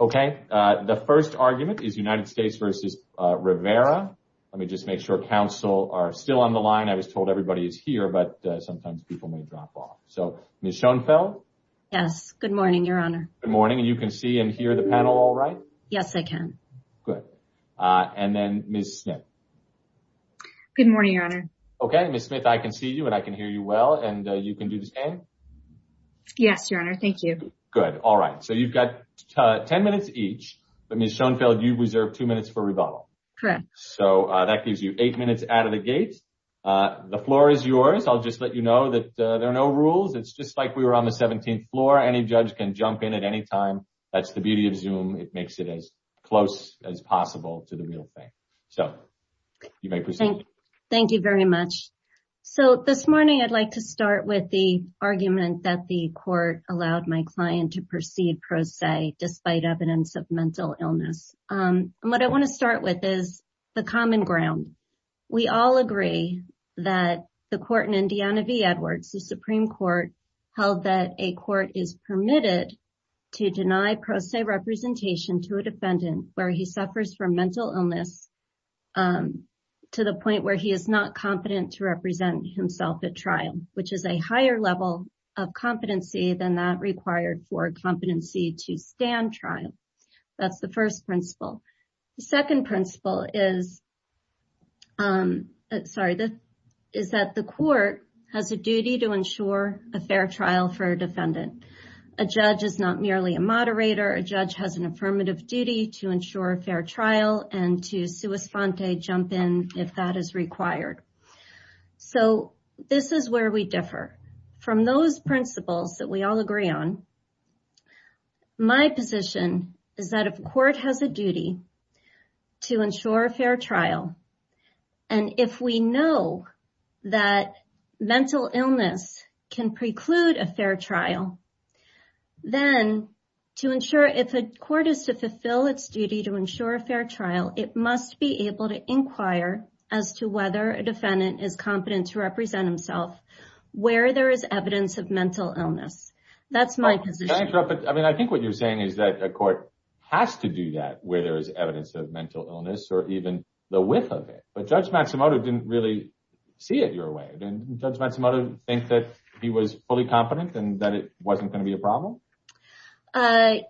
Okay, the first argument is United States v. Rivera. Let me just make sure council are still on the line. I was told everybody is here, but sometimes people may drop off. So Ms. Schoenfeld. Yes, good morning, your honor. Good morning, and you can see and hear the panel all right? Yes, I can. Good, and then Ms. Smith. Good morning, your honor. Okay, Ms. Smith, I can see you and I can hear you well, and you can do the same? Yes, your honor, thank you. Good, all right, so you've got 10 minutes each, but Ms. Schoenfeld, you've reserved two minutes for rebuttal. Correct. So that gives you eight minutes out of the gate. The floor is yours. I'll just let you know that there are no rules. It's just like we were on the 17th floor. Any judge can jump in at any time. That's the beauty of Zoom. It makes it as close as possible to the real thing. So you may proceed. Thank you very much. So this morning, I'd like to start with the argument that the court allowed my client to proceed pro se despite evidence of mental illness. And what I want to start with is the common ground. We all agree that the court in Indiana v. Edwards, the Supreme Court, held that a court is permitted to deny pro se representation to a defendant where he suffers from mental illness to the point where he is not confident to represent himself at trial, which is a higher level of competency than that required for competency to stand trial. That's the first principle. The second principle is, sorry, is that the court has a duty to ensure a fair trial for a defendant. A judge is not merely a moderator. A judge has an affirmative duty to ensure a fair trial and to sua sponte, jump in if that is required. So this is where we differ. From those principles that we all agree on, my position is that if a court has a duty to ensure a fair trial, and if we know that mental illness can preclude a fair trial, then to ensure, if a court is to fulfill its duty to ensure a fair trial, it must be able to inquire as to whether a defendant is competent to represent himself where there is evidence of mental illness. That's my position. Can I interrupt? I mean, I think what you're saying is that a court has to do that where there is evidence of mental illness or even the width of it, but Judge Matsumoto didn't really see it your way. Didn't Judge Matsumoto think that he was fully competent and that it wasn't gonna be a problem?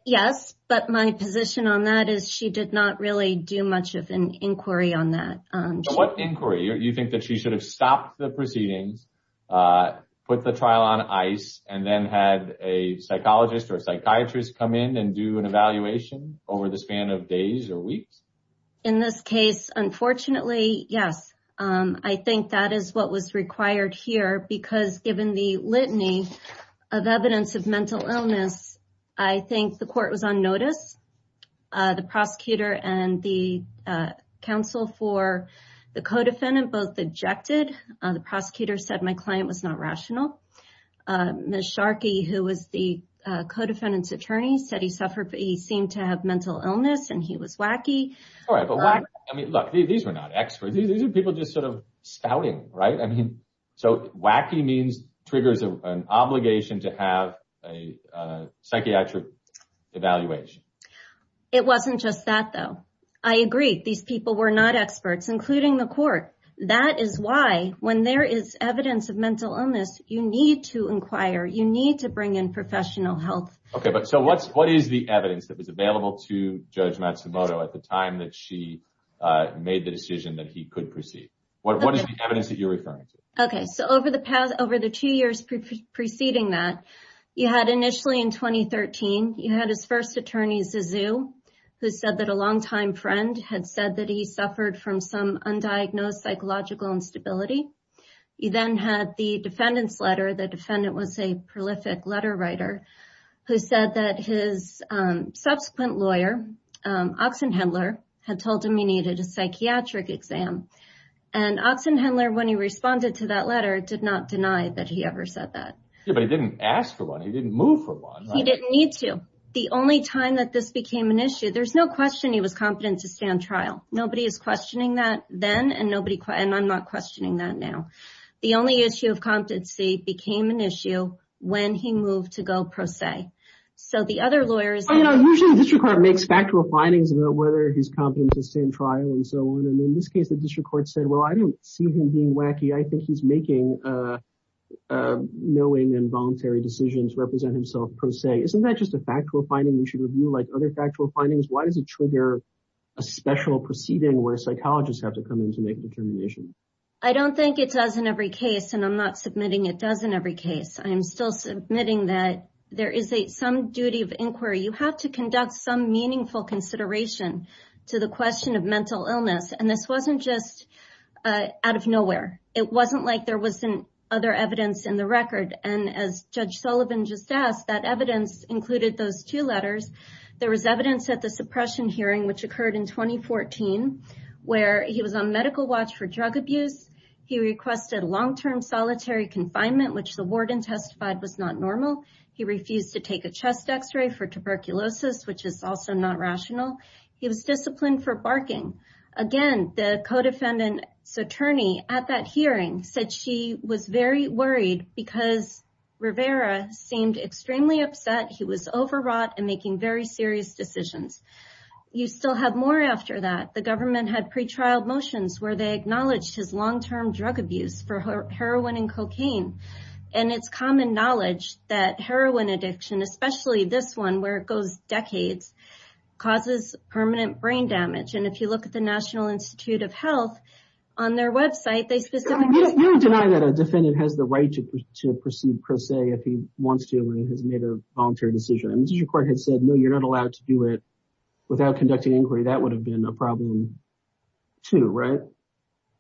Yes, but my position on that is she did not really do much of an inquiry on that. So what inquiry? You think that she should have stopped the proceedings, put the trial on ice, and then had a psychologist or a psychiatrist come in and do an evaluation over the span of days or weeks? In this case, unfortunately, yes. I think that is what was required here because given the litany of evidence of mental illness, I think the court was on notice. The prosecutor and the counsel for the co-defendant both objected. The prosecutor said my client was not rational. Ms. Sharkey, who was the co-defendant's attorney, said he suffered, he seemed to have mental illness and he was wacky. All right, but why? I mean, look, these were not experts. These are people just sort of scouting, right? I mean, so wacky means triggers an obligation to have a psychiatric evaluation. It wasn't just that, though. I agree, these people were not experts, including the court. That is why when there is evidence of mental illness, you need to inquire, you need to bring in professional health. Okay, but so what is the evidence that was available to Judge Matsumoto at the time that she made the decision that he could proceed? What is the evidence that you're referring to? Okay, so over the two years preceding that, you had initially in 2013, you had his first attorney, Zizou, who said that a longtime friend had said that he suffered from some undiagnosed psychological instability. You then had the defendant's letter. The defendant was a prolific letter writer who said that his subsequent lawyer, Oxenhendler, had told him he needed a psychiatric exam. And Oxenhendler, when he responded to that letter, did not deny that he ever said that. Yeah, but he didn't ask for one. He didn't move for one, right? He didn't need to. The only time that this became an issue, there's no question he was competent to stand trial. Nobody is questioning that then, and I'm not questioning that now. The only issue of competency became an issue when he moved to go pro se. So the other lawyers- Oh, you know, usually the district court makes factual findings about whether he's competent to stand trial and so on, and in this case, the district court said, well, I don't see him being wacky. I think he's making knowing and voluntary decisions to represent himself pro se. Isn't that just a factual finding we should review like other factual findings? Why does it trigger a special proceeding where psychologists have to come in to make determinations? I don't think it does in every case, and I'm not submitting it does in every case. I am still submitting that there is some duty of inquiry. You have to conduct some meaningful consideration to the question of mental illness, and this wasn't just out of nowhere. It wasn't like there wasn't other evidence in the record, and as Judge Sullivan just asked, that evidence included those two letters. There was evidence at the suppression hearing, which occurred in 2014, where he was on medical watch for drug abuse. He requested long-term solitary confinement, which the warden testified was not normal. He refused to take a chest X-ray for tuberculosis, which is also not rational. He was disciplined for barking. Again, the co-defendant's attorney at that hearing said she was very worried because Rivera seemed extremely upset. He was overwrought and making very serious decisions. You still have more after that. The government had pretrial motions where they acknowledged his long-term drug abuse for heroin and cocaine, and it's common knowledge that heroin addiction, especially this one where it goes decades, causes permanent brain damage, and if you look at the National Institute of Health on their website, they specifically- You deny that a defendant has the right to proceed per se if he wants to and has made a voluntary decision, and the district court had said, no, you're not allowed to do it without conducting inquiry. That would have been a problem, too, right?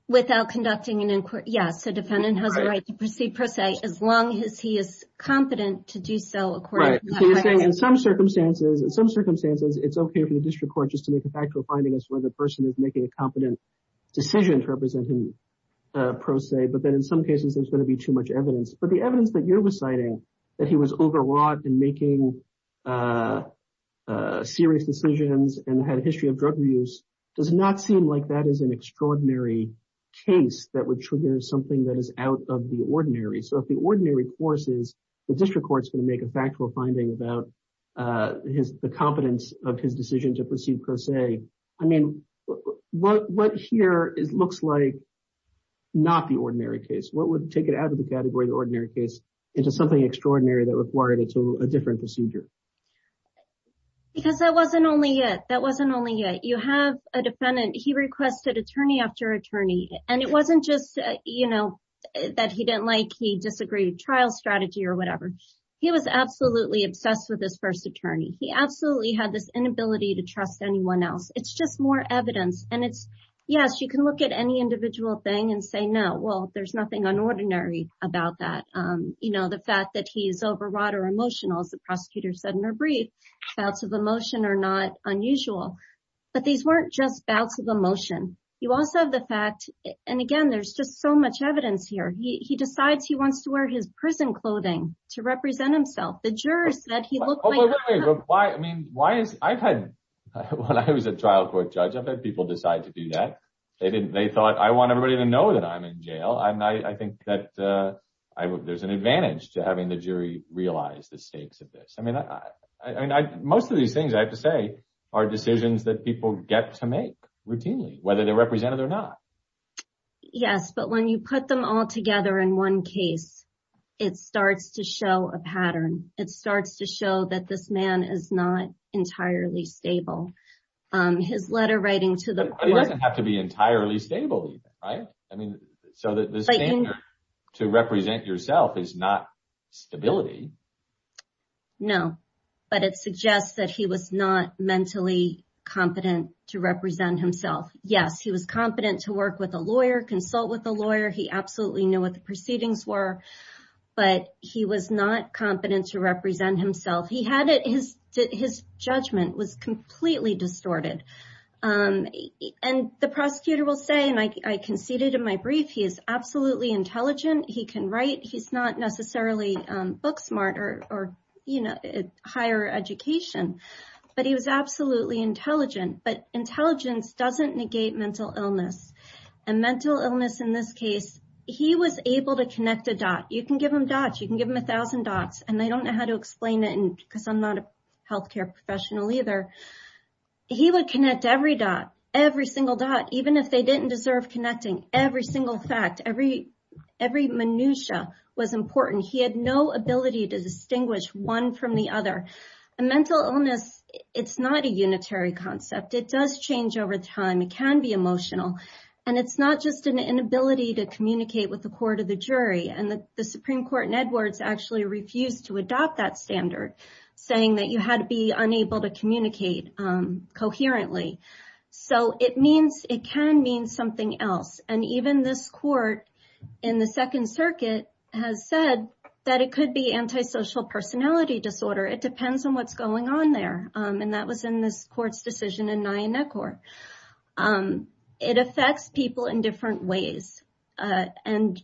Without conducting an inquiry, yes. A defendant has a right to proceed per se as long as he is competent to do so according to that- Right, so you're saying in some circumstances, in some circumstances, it's okay for the district court just to make a factual finding as to whether the person is making a competent decision to represent him per se, but then in some cases, there's gonna be too much evidence, but the evidence that you're reciting, that he was overwrought and making serious decisions and had a history of drug abuse, does not seem like that is an extraordinary case that would trigger something that is out of the ordinary, so if the ordinary course is, the district court's gonna make a factual finding about the competence of his decision to proceed per se, I mean, what here looks like not the ordinary case? What would take it out of the category, the ordinary case, into something extraordinary that required a different procedure? Because that wasn't only it, that wasn't only it. You have a defendant, he requested attorney after attorney, and it wasn't just that he didn't like, he disagreed with trial strategy or whatever. He was absolutely obsessed with his first attorney. He absolutely had this inability to trust anyone else. It's just more evidence, and it's, yes, you can look at any individual thing and say, no, well, there's nothing unordinary about that. The fact that he's overwrought or emotional, as the prosecutor said in her brief, bouts of emotion are not unusual, but these weren't just bouts of emotion. You also have the fact, and again, there's just so much evidence here. He decides he wants to wear his prison clothing to represent himself. The jurors said he looked like- Oh, wait, wait, wait, why, I mean, why is, I've had, when I was a trial court judge, I've had people decide to do that. They didn't, they thought, I want everybody to know that I'm in jail, and I think that there's an advantage to having the jury realize the stakes of this. I mean, most of these things, I have to say, are decisions that people get to make routinely, whether they're represented or not. Yes, but when you put them all together in one case, it starts to show a pattern. It starts to show that this man is not entirely stable. His letter writing to the court- But he doesn't have to be entirely stable either, right? I mean, so the standard to represent yourself is not stability. No, but it suggests that he was not mentally competent to represent himself. Yes, he was competent to work with a lawyer, consult with a lawyer. He absolutely knew what the proceedings were, but he was not competent to represent himself. He had it, his judgment was completely distorted. And the prosecutor will say, and I conceded in my brief, he is absolutely intelligent. He can write. He's not necessarily book smart or higher education, but he was absolutely intelligent. But intelligence doesn't negate mental illness. And mental illness in this case, he was able to connect a dot. You can give him dots, you can give him a thousand dots, and they don't know how to explain it because I'm not a healthcare professional either. He would connect every dot, every single dot, even if they didn't deserve connecting, every single fact, every minutiae was important. He had no ability to distinguish one from the other. A mental illness, it's not a unitary concept. It does change over time. It can be emotional. And it's not just an inability to communicate with the court or the jury. And the Supreme Court in Edwards actually refused to adopt that standard, saying that you had to be unable to communicate coherently. So it means, it can mean something else. And even this court in the Second Circuit has said that it could be antisocial personality disorder. It depends on what's going on there. And that was in this court's decision in Nyenekor. It affects people in different ways. And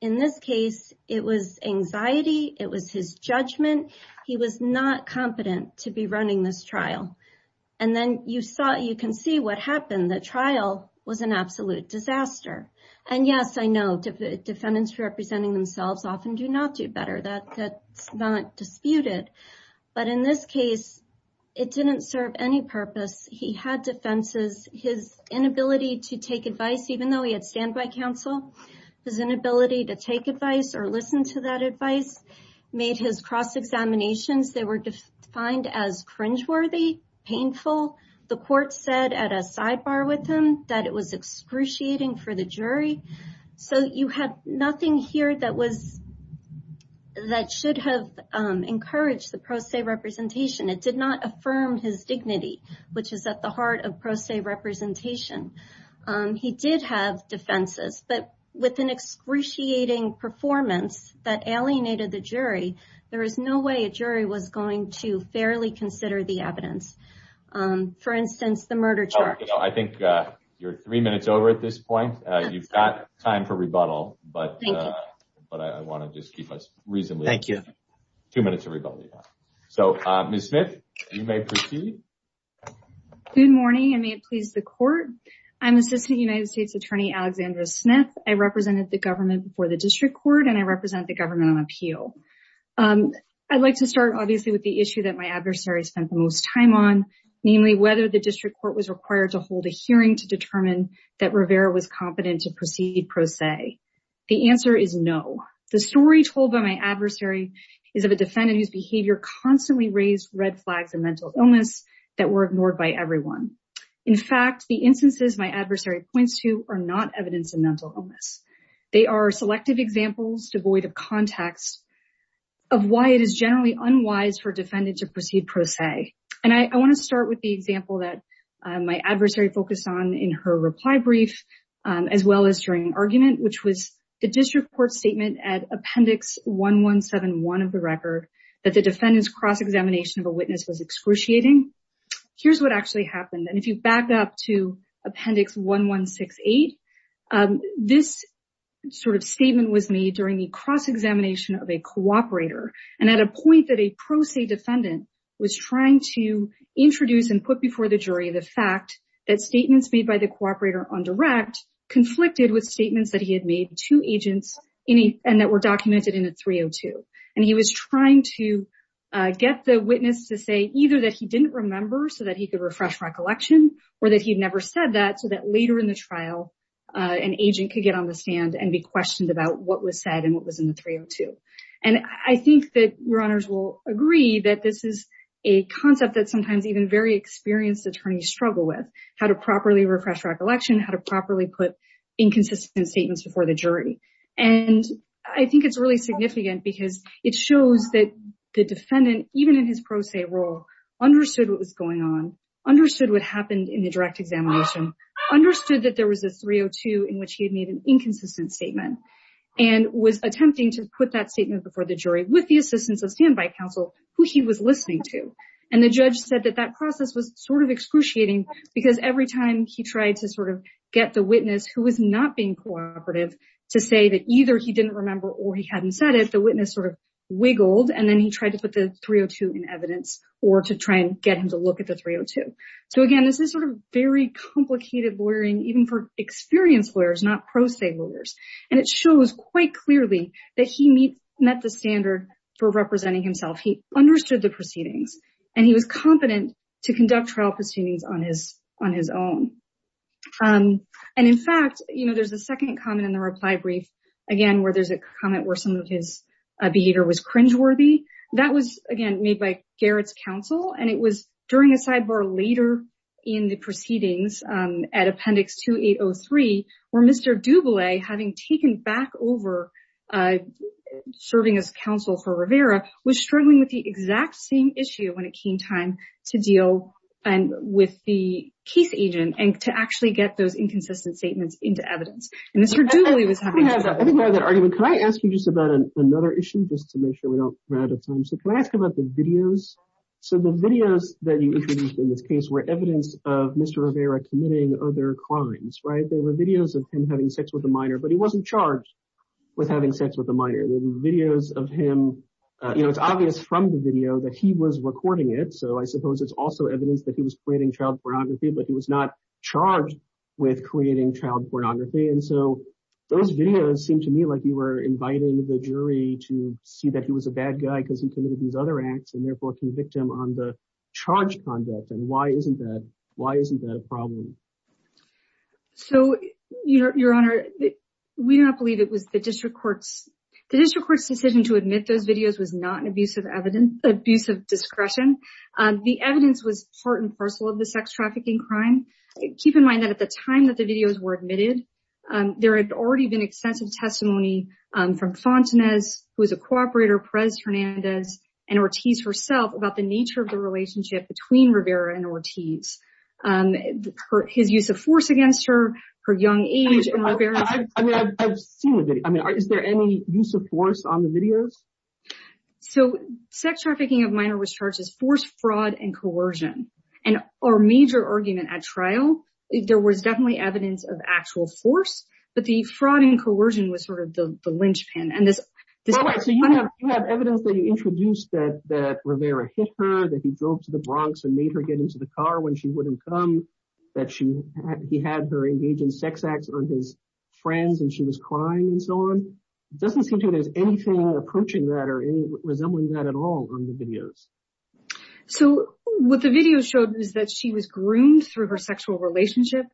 in this case, it was anxiety, it was his judgment. He was not competent to be running this trial. And then you saw, you can see what happened. The trial was an absolute disaster. And yes, I know, defendants representing themselves often do not do better, that's not disputed. But in this case, it didn't serve any purpose. He had defenses, his inability to take advice, even though he had standby counsel, his inability to take advice or listen to that advice made his cross-examinations, they were defined as cringeworthy, painful. The court said at a sidebar with him that it was excruciating for the jury. So you had nothing here that should have encouraged the pro se representation. It did not affirm his dignity, which is at the heart of pro se representation. He did have defenses, but with an excruciating performance that alienated the jury, there is no way a jury was going to fairly consider the evidence. For instance, the murder charge. I think you're three minutes over at this point. You've got time for rebuttal, but I want to just keep us reasonably. Thank you. Two minutes of rebuttal you have. So Ms. Smith, you may proceed. Good morning, and may it please the court. I'm Assistant United States Attorney Alexandra Smith. I represented the government before the district court, and I represent the government on appeal. I'd like to start obviously with the issue that my adversary spent the most time on, namely whether the district court was required to hold a hearing to determine that Rivera was competent to proceed pro se. The answer is no. The story told by my adversary is of a defendant whose behavior constantly raised red flags and mental illness that were ignored by everyone. In fact, the instances my adversary points to are not evidence of mental illness. They are selective examples devoid of context of why it is generally unwise for a defendant to proceed pro se. And I want to start with the example that my adversary focused on in her reply brief, as well as during argument, which was the district court statement at appendix 1171 of the record that the defendant's cross-examination of a witness was excruciating. Here's what actually happened. And if you back up to appendix 1168, this sort of statement was made during the cross-examination of a cooperator. And at a point that a pro se defendant was trying to introduce and put before the jury the fact that statements made by the cooperator on direct conflicted with statements that he had made to agents and that were documented in the 302. And he was trying to get the witness to say either that he didn't remember so that he could refresh recollection or that he'd never said that so that later in the trial, an agent could get on the stand and be questioned about what was said and what was in the 302. And I think that your honors will agree that this is a concept that sometimes even very experienced attorneys struggle with, how to properly refresh recollection, how to properly put inconsistent statements before the jury. And I think it's really significant because it shows that the defendant, even in his pro se role, understood what was going on, understood what happened in the direct examination, understood that there was a 302 in which he had made an inconsistent statement and was attempting to put that statement before the jury with the assistance of standby counsel who he was listening to. And the judge said that that process was sort of excruciating because every time he tried to sort of get the witness who was not being cooperative to say that either he didn't remember or he hadn't said it, the witness sort of wiggled and then he tried to put the 302 in evidence or to try and get him to look at the 302. So again, this is sort of very complicated lawyering even for experienced lawyers, not pro se lawyers. And it shows quite clearly that he met the standard for representing himself. He understood the proceedings and he was competent to conduct trial proceedings on his own. And in fact, there's a second comment in the reply brief, again, where there's a comment where some of his behavior was cringeworthy. That was, again, made by Garrett's counsel and it was during a sidebar later in the proceedings at Appendix 2803, where Mr. Dubele, having taken back over serving as counsel for Rivera was struggling with the exact same issue when it came time to deal with the case agent and to actually get those inconsistent statements into evidence. And Mr. Dubele was having- I think we have that argument. Can I ask you just about another issue just to make sure we don't run out of time? So can I ask about the videos? So the videos that you introduced in this case were evidence of Mr. Rivera committing other crimes, right? They were videos of him having sex with a minor but he wasn't charged with having sex with a minor. There were videos of him, it's obvious from the video that he was recording it. So I suppose it's also evidence that he was creating child pornography but he was not charged with creating child pornography. And so those videos seem to me like you were inviting the jury to see that he was a bad guy because he committed these other acts and therefore can victim on the charge conduct. And why isn't that a problem? So your honor, we do not believe it was the district courts. The district court's decision to admit those videos was not an abuse of discretion. The evidence was part and parcel of the sex trafficking crime. Keep in mind that at the time that the videos were admitted there had already been extensive testimony from Fontanez who was a cooperator, Perez Hernandez and Ortiz herself about the nature of the relationship between Rivera and Ortiz. His use of force against her, her young age and Rivera. I mean, I've seen the video. I mean, is there any use of force on the videos? So sex trafficking of minor was charged as force, fraud and coercion. And our major argument at trial if there was definitely evidence of actual force but the fraud and coercion was sort of the linchpin. And this- So you have evidence that you introduced that Rivera hit her, that he drove to the Bronx and made her get into the car when she wouldn't come. That he had her engage in sex acts on his friends and she was crying and so on. It doesn't seem to me there's anything approaching that or resembling that at all on the videos. So what the video showed was that she was groomed through her sexual relationship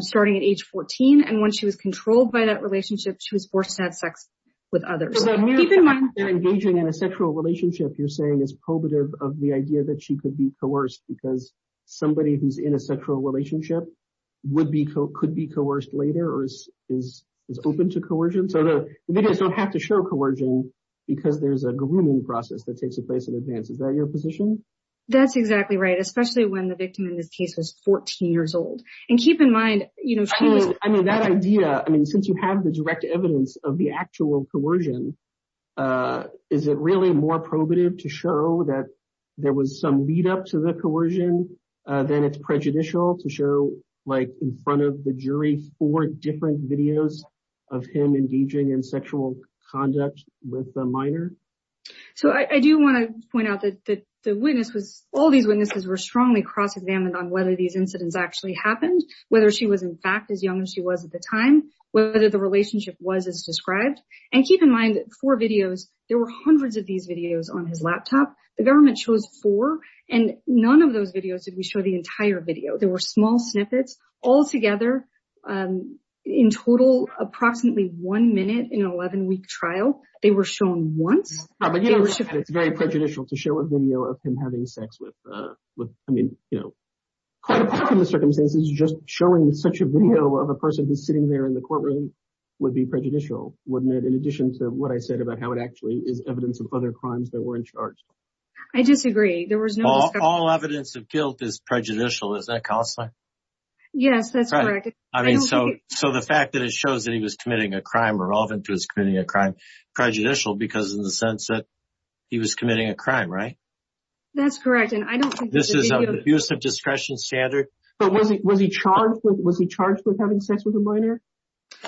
starting at age 14. And when she was controlled by that relationship she was forced to have sex with others. So keep in mind- So the mere fact that they're engaging in a sexual relationship you're saying is probative of the idea that she could be coerced because somebody who's in a sexual relationship would be, could be coerced later or is open to coercion. So the videos don't have to show coercion because there's a grooming process that takes place in advance. Is that your position? That's exactly right. Especially when the victim in this case was 14 years old. And keep in mind, you know, she was- I mean, that idea, I mean, since you have the direct evidence of the actual coercion, is it really more probative to show that there was some lead up to the coercion than it's prejudicial to show like in front of the jury, four different videos of him engaging in sexual conduct with a minor? So I do want to point out that the witness was- all these witnesses were strongly cross-examined on whether these incidents actually happened, whether she was in fact as young as she was at the time, whether the relationship was as described. And keep in mind that four videos, there were hundreds of these videos on his laptop. The government chose four and none of those videos did we show the entire video. There were small snippets. Altogether, in total, approximately one minute in an 11-week trial, they were shown once. But it's very prejudicial to show a video of him having sex with, I mean, you know, quite often the circumstances just showing such a video of a person who's sitting there in the courtroom would be prejudicial, wouldn't it? In addition to what I said about how it actually is evidence of other crimes that were in charge. I disagree. There was no- All evidence of guilt is prejudicial. Isn't it, Counselor? Yes, that's correct. I mean, so the fact that it shows that he was committing a crime or relevant to his committing a crime, prejudicial because in the sense that he was committing a crime, right? That's correct. And I don't think- This is an abusive discretion standard. But was he charged with having sex with a minor?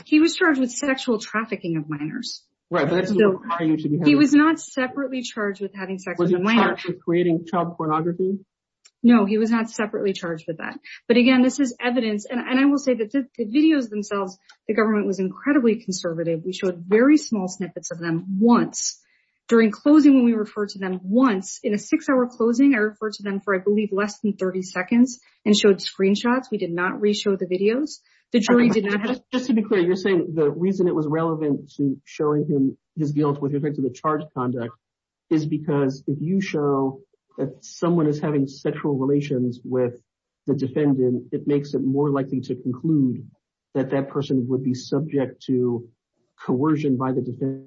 He was charged with sexual trafficking of minors. Right, but that doesn't require you to be having- He was not separately charged with having sex with a minor. Was he charged with creating child pornography? No, he was not separately charged with that. But again, this is evidence. And I will say that the videos themselves, the government was incredibly conservative. We showed very small snippets of them once. During closing, when we referred to them once, in a six-hour closing, I referred to them for, I believe, less than 30 seconds and showed screenshots. We did not reshow the videos. The jury did not have- Just to be clear, you're saying the reason it was relevant to showing him his guilt with respect to the charged conduct is because if you show that someone is having sexual relations with the defendant, it makes it more likely to conclude that that person would be subject to coercion by the defendant.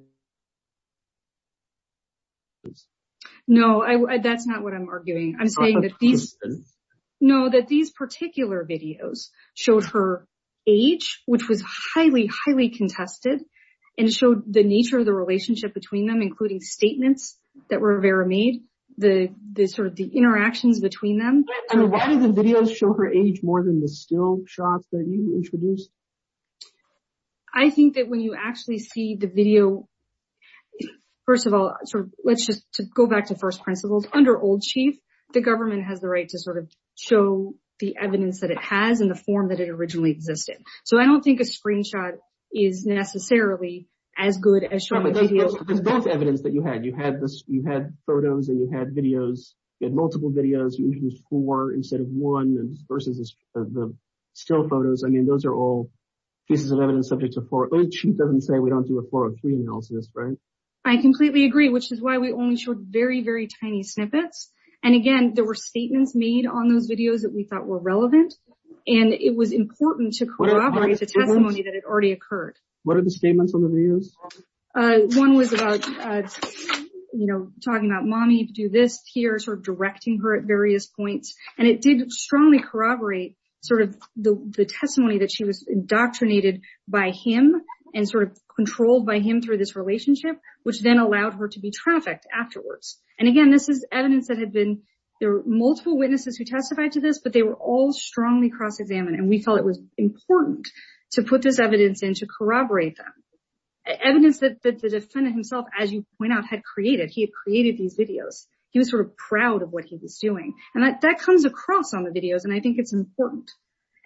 No, that's not what I'm arguing. I'm saying that these- No, that these particular videos showed her age, which was highly, highly contested, and showed the nature of the relationship between them, including statements that Rivera made, the sort of the interactions between them. I mean, why did the videos show her age more than the still shots that you introduced? I think that when you actually see the video, first of all, let's just go back to first principles. Under Old Chief, the government has the right to sort of show the evidence that it has in the form that it originally existed. So I don't think a screenshot is necessarily as good as showing a video- There's both evidence that you had. You had photos and you had videos. You had multiple videos. You introduced four instead of one, versus the still photos. I mean, those are all pieces of evidence subject to Fort, which doesn't say we don't do a 403 analysis, right? I completely agree, which is why we only showed very, very tiny snippets. And again, there were statements made on those videos that we thought were relevant, and it was important to corroborate the testimony that had already occurred. What are the statements on the videos? One was about, you know, talking about mommy to do this here, sort of directing her at various points. And it did strongly corroborate sort of the testimony that she was indoctrinated by him and sort of controlled by him through this relationship, which then allowed her to be trafficked afterwards. And again, this is evidence that had been, there were multiple witnesses who testified to this, but they were all strongly cross-examined. And we felt it was important to put this evidence in to corroborate them. Evidence that the defendant himself, as you point out, had created. He had created these videos. He was sort of proud of what he was doing. And that comes across on the videos, and I think it's important.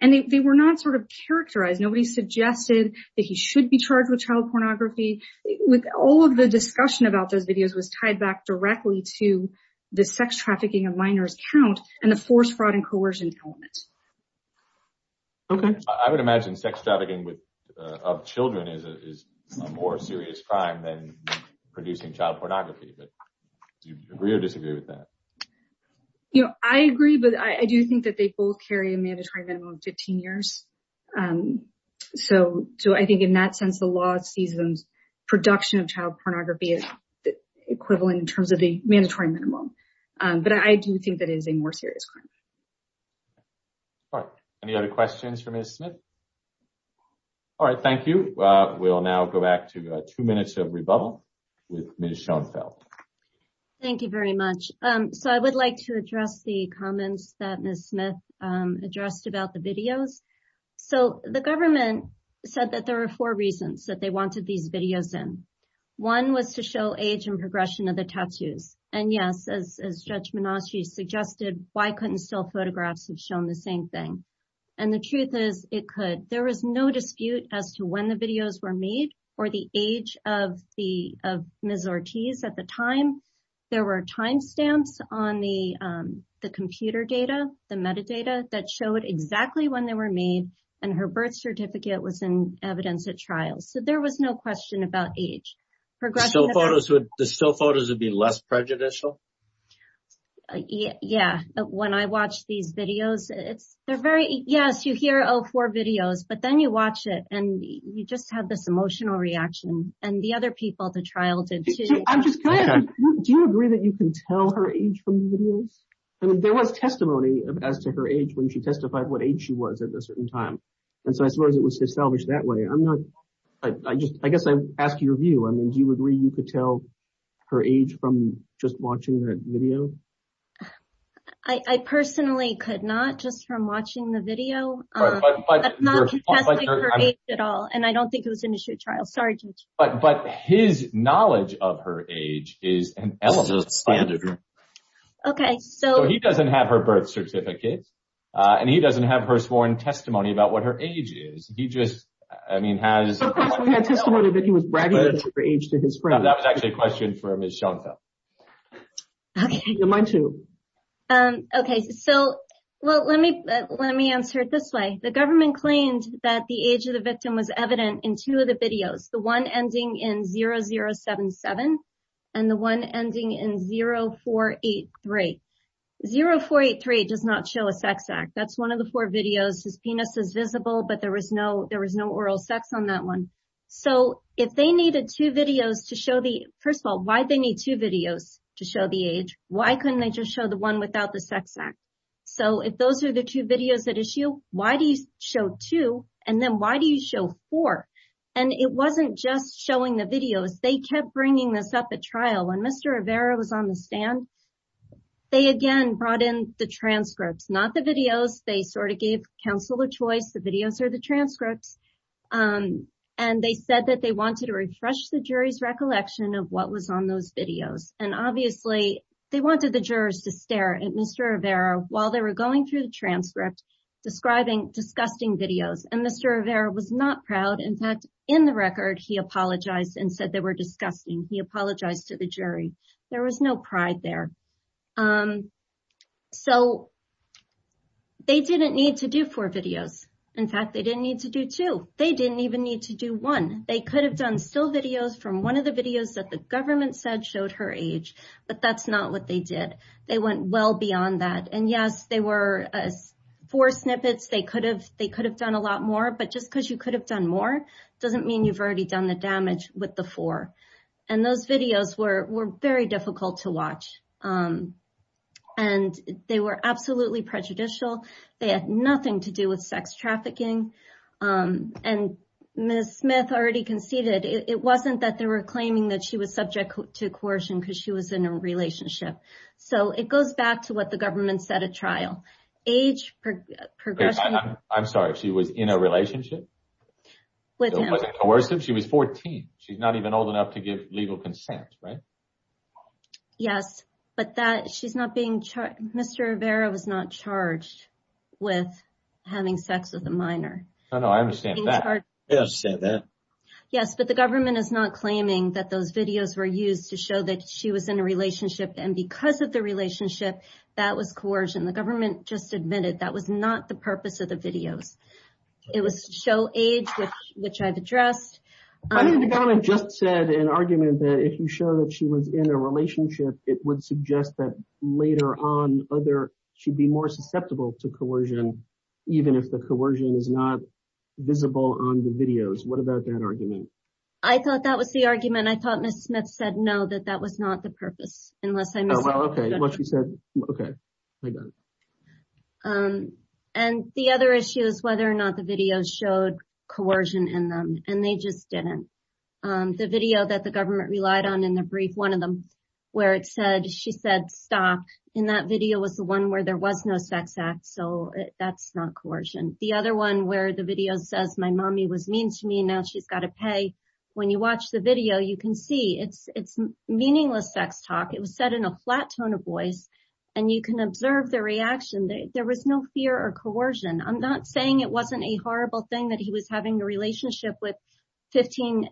And they were not sort of characterized. Nobody suggested that he should be charged with child pornography. With all of the discussion about those videos was tied back directly to the sex trafficking of minors count and the force, fraud, and coercion element. Okay. I would imagine sex trafficking of children is a more serious crime than producing child pornography, but do you agree or disagree with that? You know, I agree, but I do think that they both carry a mandatory minimum of 15 years. So I think in that sense, the law sees them's production of child pornography as the equivalent in terms of the mandatory minimum. But I do think that it is a more serious crime. All right. Any other questions for Ms. Smith? All right, thank you. We'll now go back to two minutes of rebuttal with Ms. Schoenfeld. Thank you very much. So I would like to address the comments that Ms. Smith addressed about the videos. So the government said that there were four reasons that they wanted these videos in. One was to show age and progression of the tattoos. And yes, as Judge Menasci suggested, why couldn't still photographs have shown the same thing? And the truth is it could. There was no dispute as to when the videos were made or the age of Ms. Ortiz at the time. There were timestamps on the computer data, the metadata that showed exactly when they were made and her birth certificate was in evidence at trial. So there was no question about age. Progression of the- The still photos would be less prejudicial? Yeah, but when I watch these videos, it's, they're very, yes, you hear, oh, four videos, but then you watch it and you just have this emotional reaction. And the other people at the trial did too. I'm just curious, do you agree that you can tell her age from the videos? I mean, there was testimony as to her age when she testified what age she was at a certain time. And so as far as it was salvaged that way, I'm not, I guess I ask your view. I mean, do you agree you could tell her age from just watching the video? I personally could not just from watching the video. Right, but- I'm not contesting her age at all. And I don't think it was an issue at trial. Sorry, Judge. But his knowledge of her age is an element of standard. Okay, so- So he doesn't have her birth certificate and he doesn't have her sworn testimony about what her age is. He just, I mean, has- Of course we had testimony that he was bragging about her age to his friends. That was actually a question for Ms. Schoenfeldt. Okay. You're mine too. Okay, so, well, let me answer it this way. The government claimed that the age of the victim was evident in two of the videos, the one ending in 0077 and the one ending in 0483. 0483 does not show a sex act. That's one of the four videos. His penis is visible, but there was no oral sex on that one. So if they needed two videos to show the, first of all, why'd they need two videos to show the age? Why couldn't they just show the one without the sex act? So if those are the two videos at issue, why do you show two? And then why do you show four? And it wasn't just showing the videos. They kept bringing this up at trial. When Mr. Rivera was on the stand, they again brought in the transcripts, not the videos. They sort of gave counsel a choice. The videos are the transcripts. And they said that they wanted to refresh the jury's recollection of what was on those videos. And obviously they wanted the jurors to stare at Mr. Rivera while they were going through the transcript describing disgusting videos. And Mr. Rivera was not proud. In fact, in the record, he apologized and said they were disgusting. He apologized to the jury. There was no pride there. So they didn't need to do four videos. In fact, they didn't need to do two. They didn't even need to do one. They could have done still videos from one of the videos that the government said showed her age, but that's not what they did. They went well beyond that. And yes, they were four snippets. They could have done a lot more, but just because you could have done more doesn't mean you've already done the damage with the four. And those videos were very difficult to watch. And they were absolutely prejudicial. They had nothing to do with sex trafficking. And Ms. Smith already conceded. It wasn't that they were claiming that she was subject to coercion because she was in a relationship. So it goes back to what the government said at trial. Age, progression- I'm sorry, she was in a relationship? With him. She was 14. She's not even old enough to give legal consent, right? Mr. Rivera was not charged with having sex with a minor. No, no, I understand that. I understand that. Yes, but the government is not claiming that those videos were used to show that she was in a relationship. And because of the relationship, that was coercion. The government just admitted that was not the purpose of the videos. It was to show age, which I've addressed. I think the government just said in argument that if you show that she was in a relationship, it would suggest that later on, other-she'd be more susceptible to coercion, even if the coercion is not visible on the videos. What about that argument? I thought that was the argument. I thought Ms. Smith said, no, that that was not the purpose. Unless I'm- What she said-okay, I got it. And the other issue is whether or not the videos showed coercion in them. And they just didn't. The video that the government relied on in the brief, one of them, where it said-she said, stop, in that video was the one where there was no sex act. So that's not coercion. The other one where the video says, my mommy was mean to me, now she's got to pay. When you watch the video, you can see it's meaningless sex talk. It was said in a flat tone of voice. And you can observe the reaction. There was no fear or coercion. I'm not saying it wasn't a horrible thing that he was having a relationship with 15-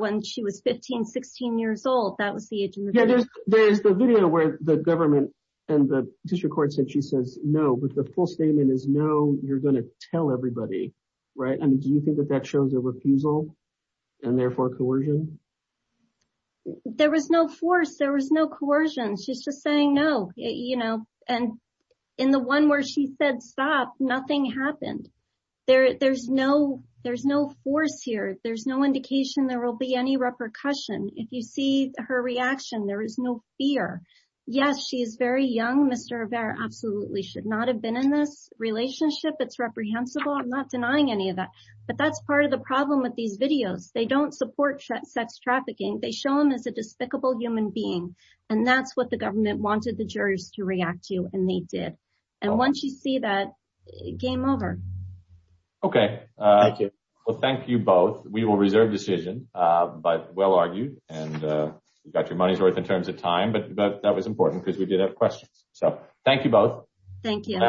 when she was 15, 16 years old. That was the age in the video. There's the video where the government and the district court said she says no with the full statement is no, you're going to tell everybody, right? I mean, do you think that that shows a refusal and therefore coercion? There was no force. There was no coercion. She's just saying no, you know. And in the one where she said, stop, nothing happened. There's no force here. There's no indication there will be any repercussion. If you see her reaction, there is no fear. Yes, she is very young, Mr. Rivera. Absolutely should not have been in this relationship. It's reprehensible. I'm not denying any of that. But that's part of the problem with these videos. They don't support sex trafficking. They show them as a despicable human being. And that's what the government wanted the jurors to react to, and they did. And once you see that, game over. Okay. Thank you. Well, thank you both. We will reserve decision. But well argued. And you got your money's worth in terms of time. But that was important because we did have questions. So thank you both. Thank you.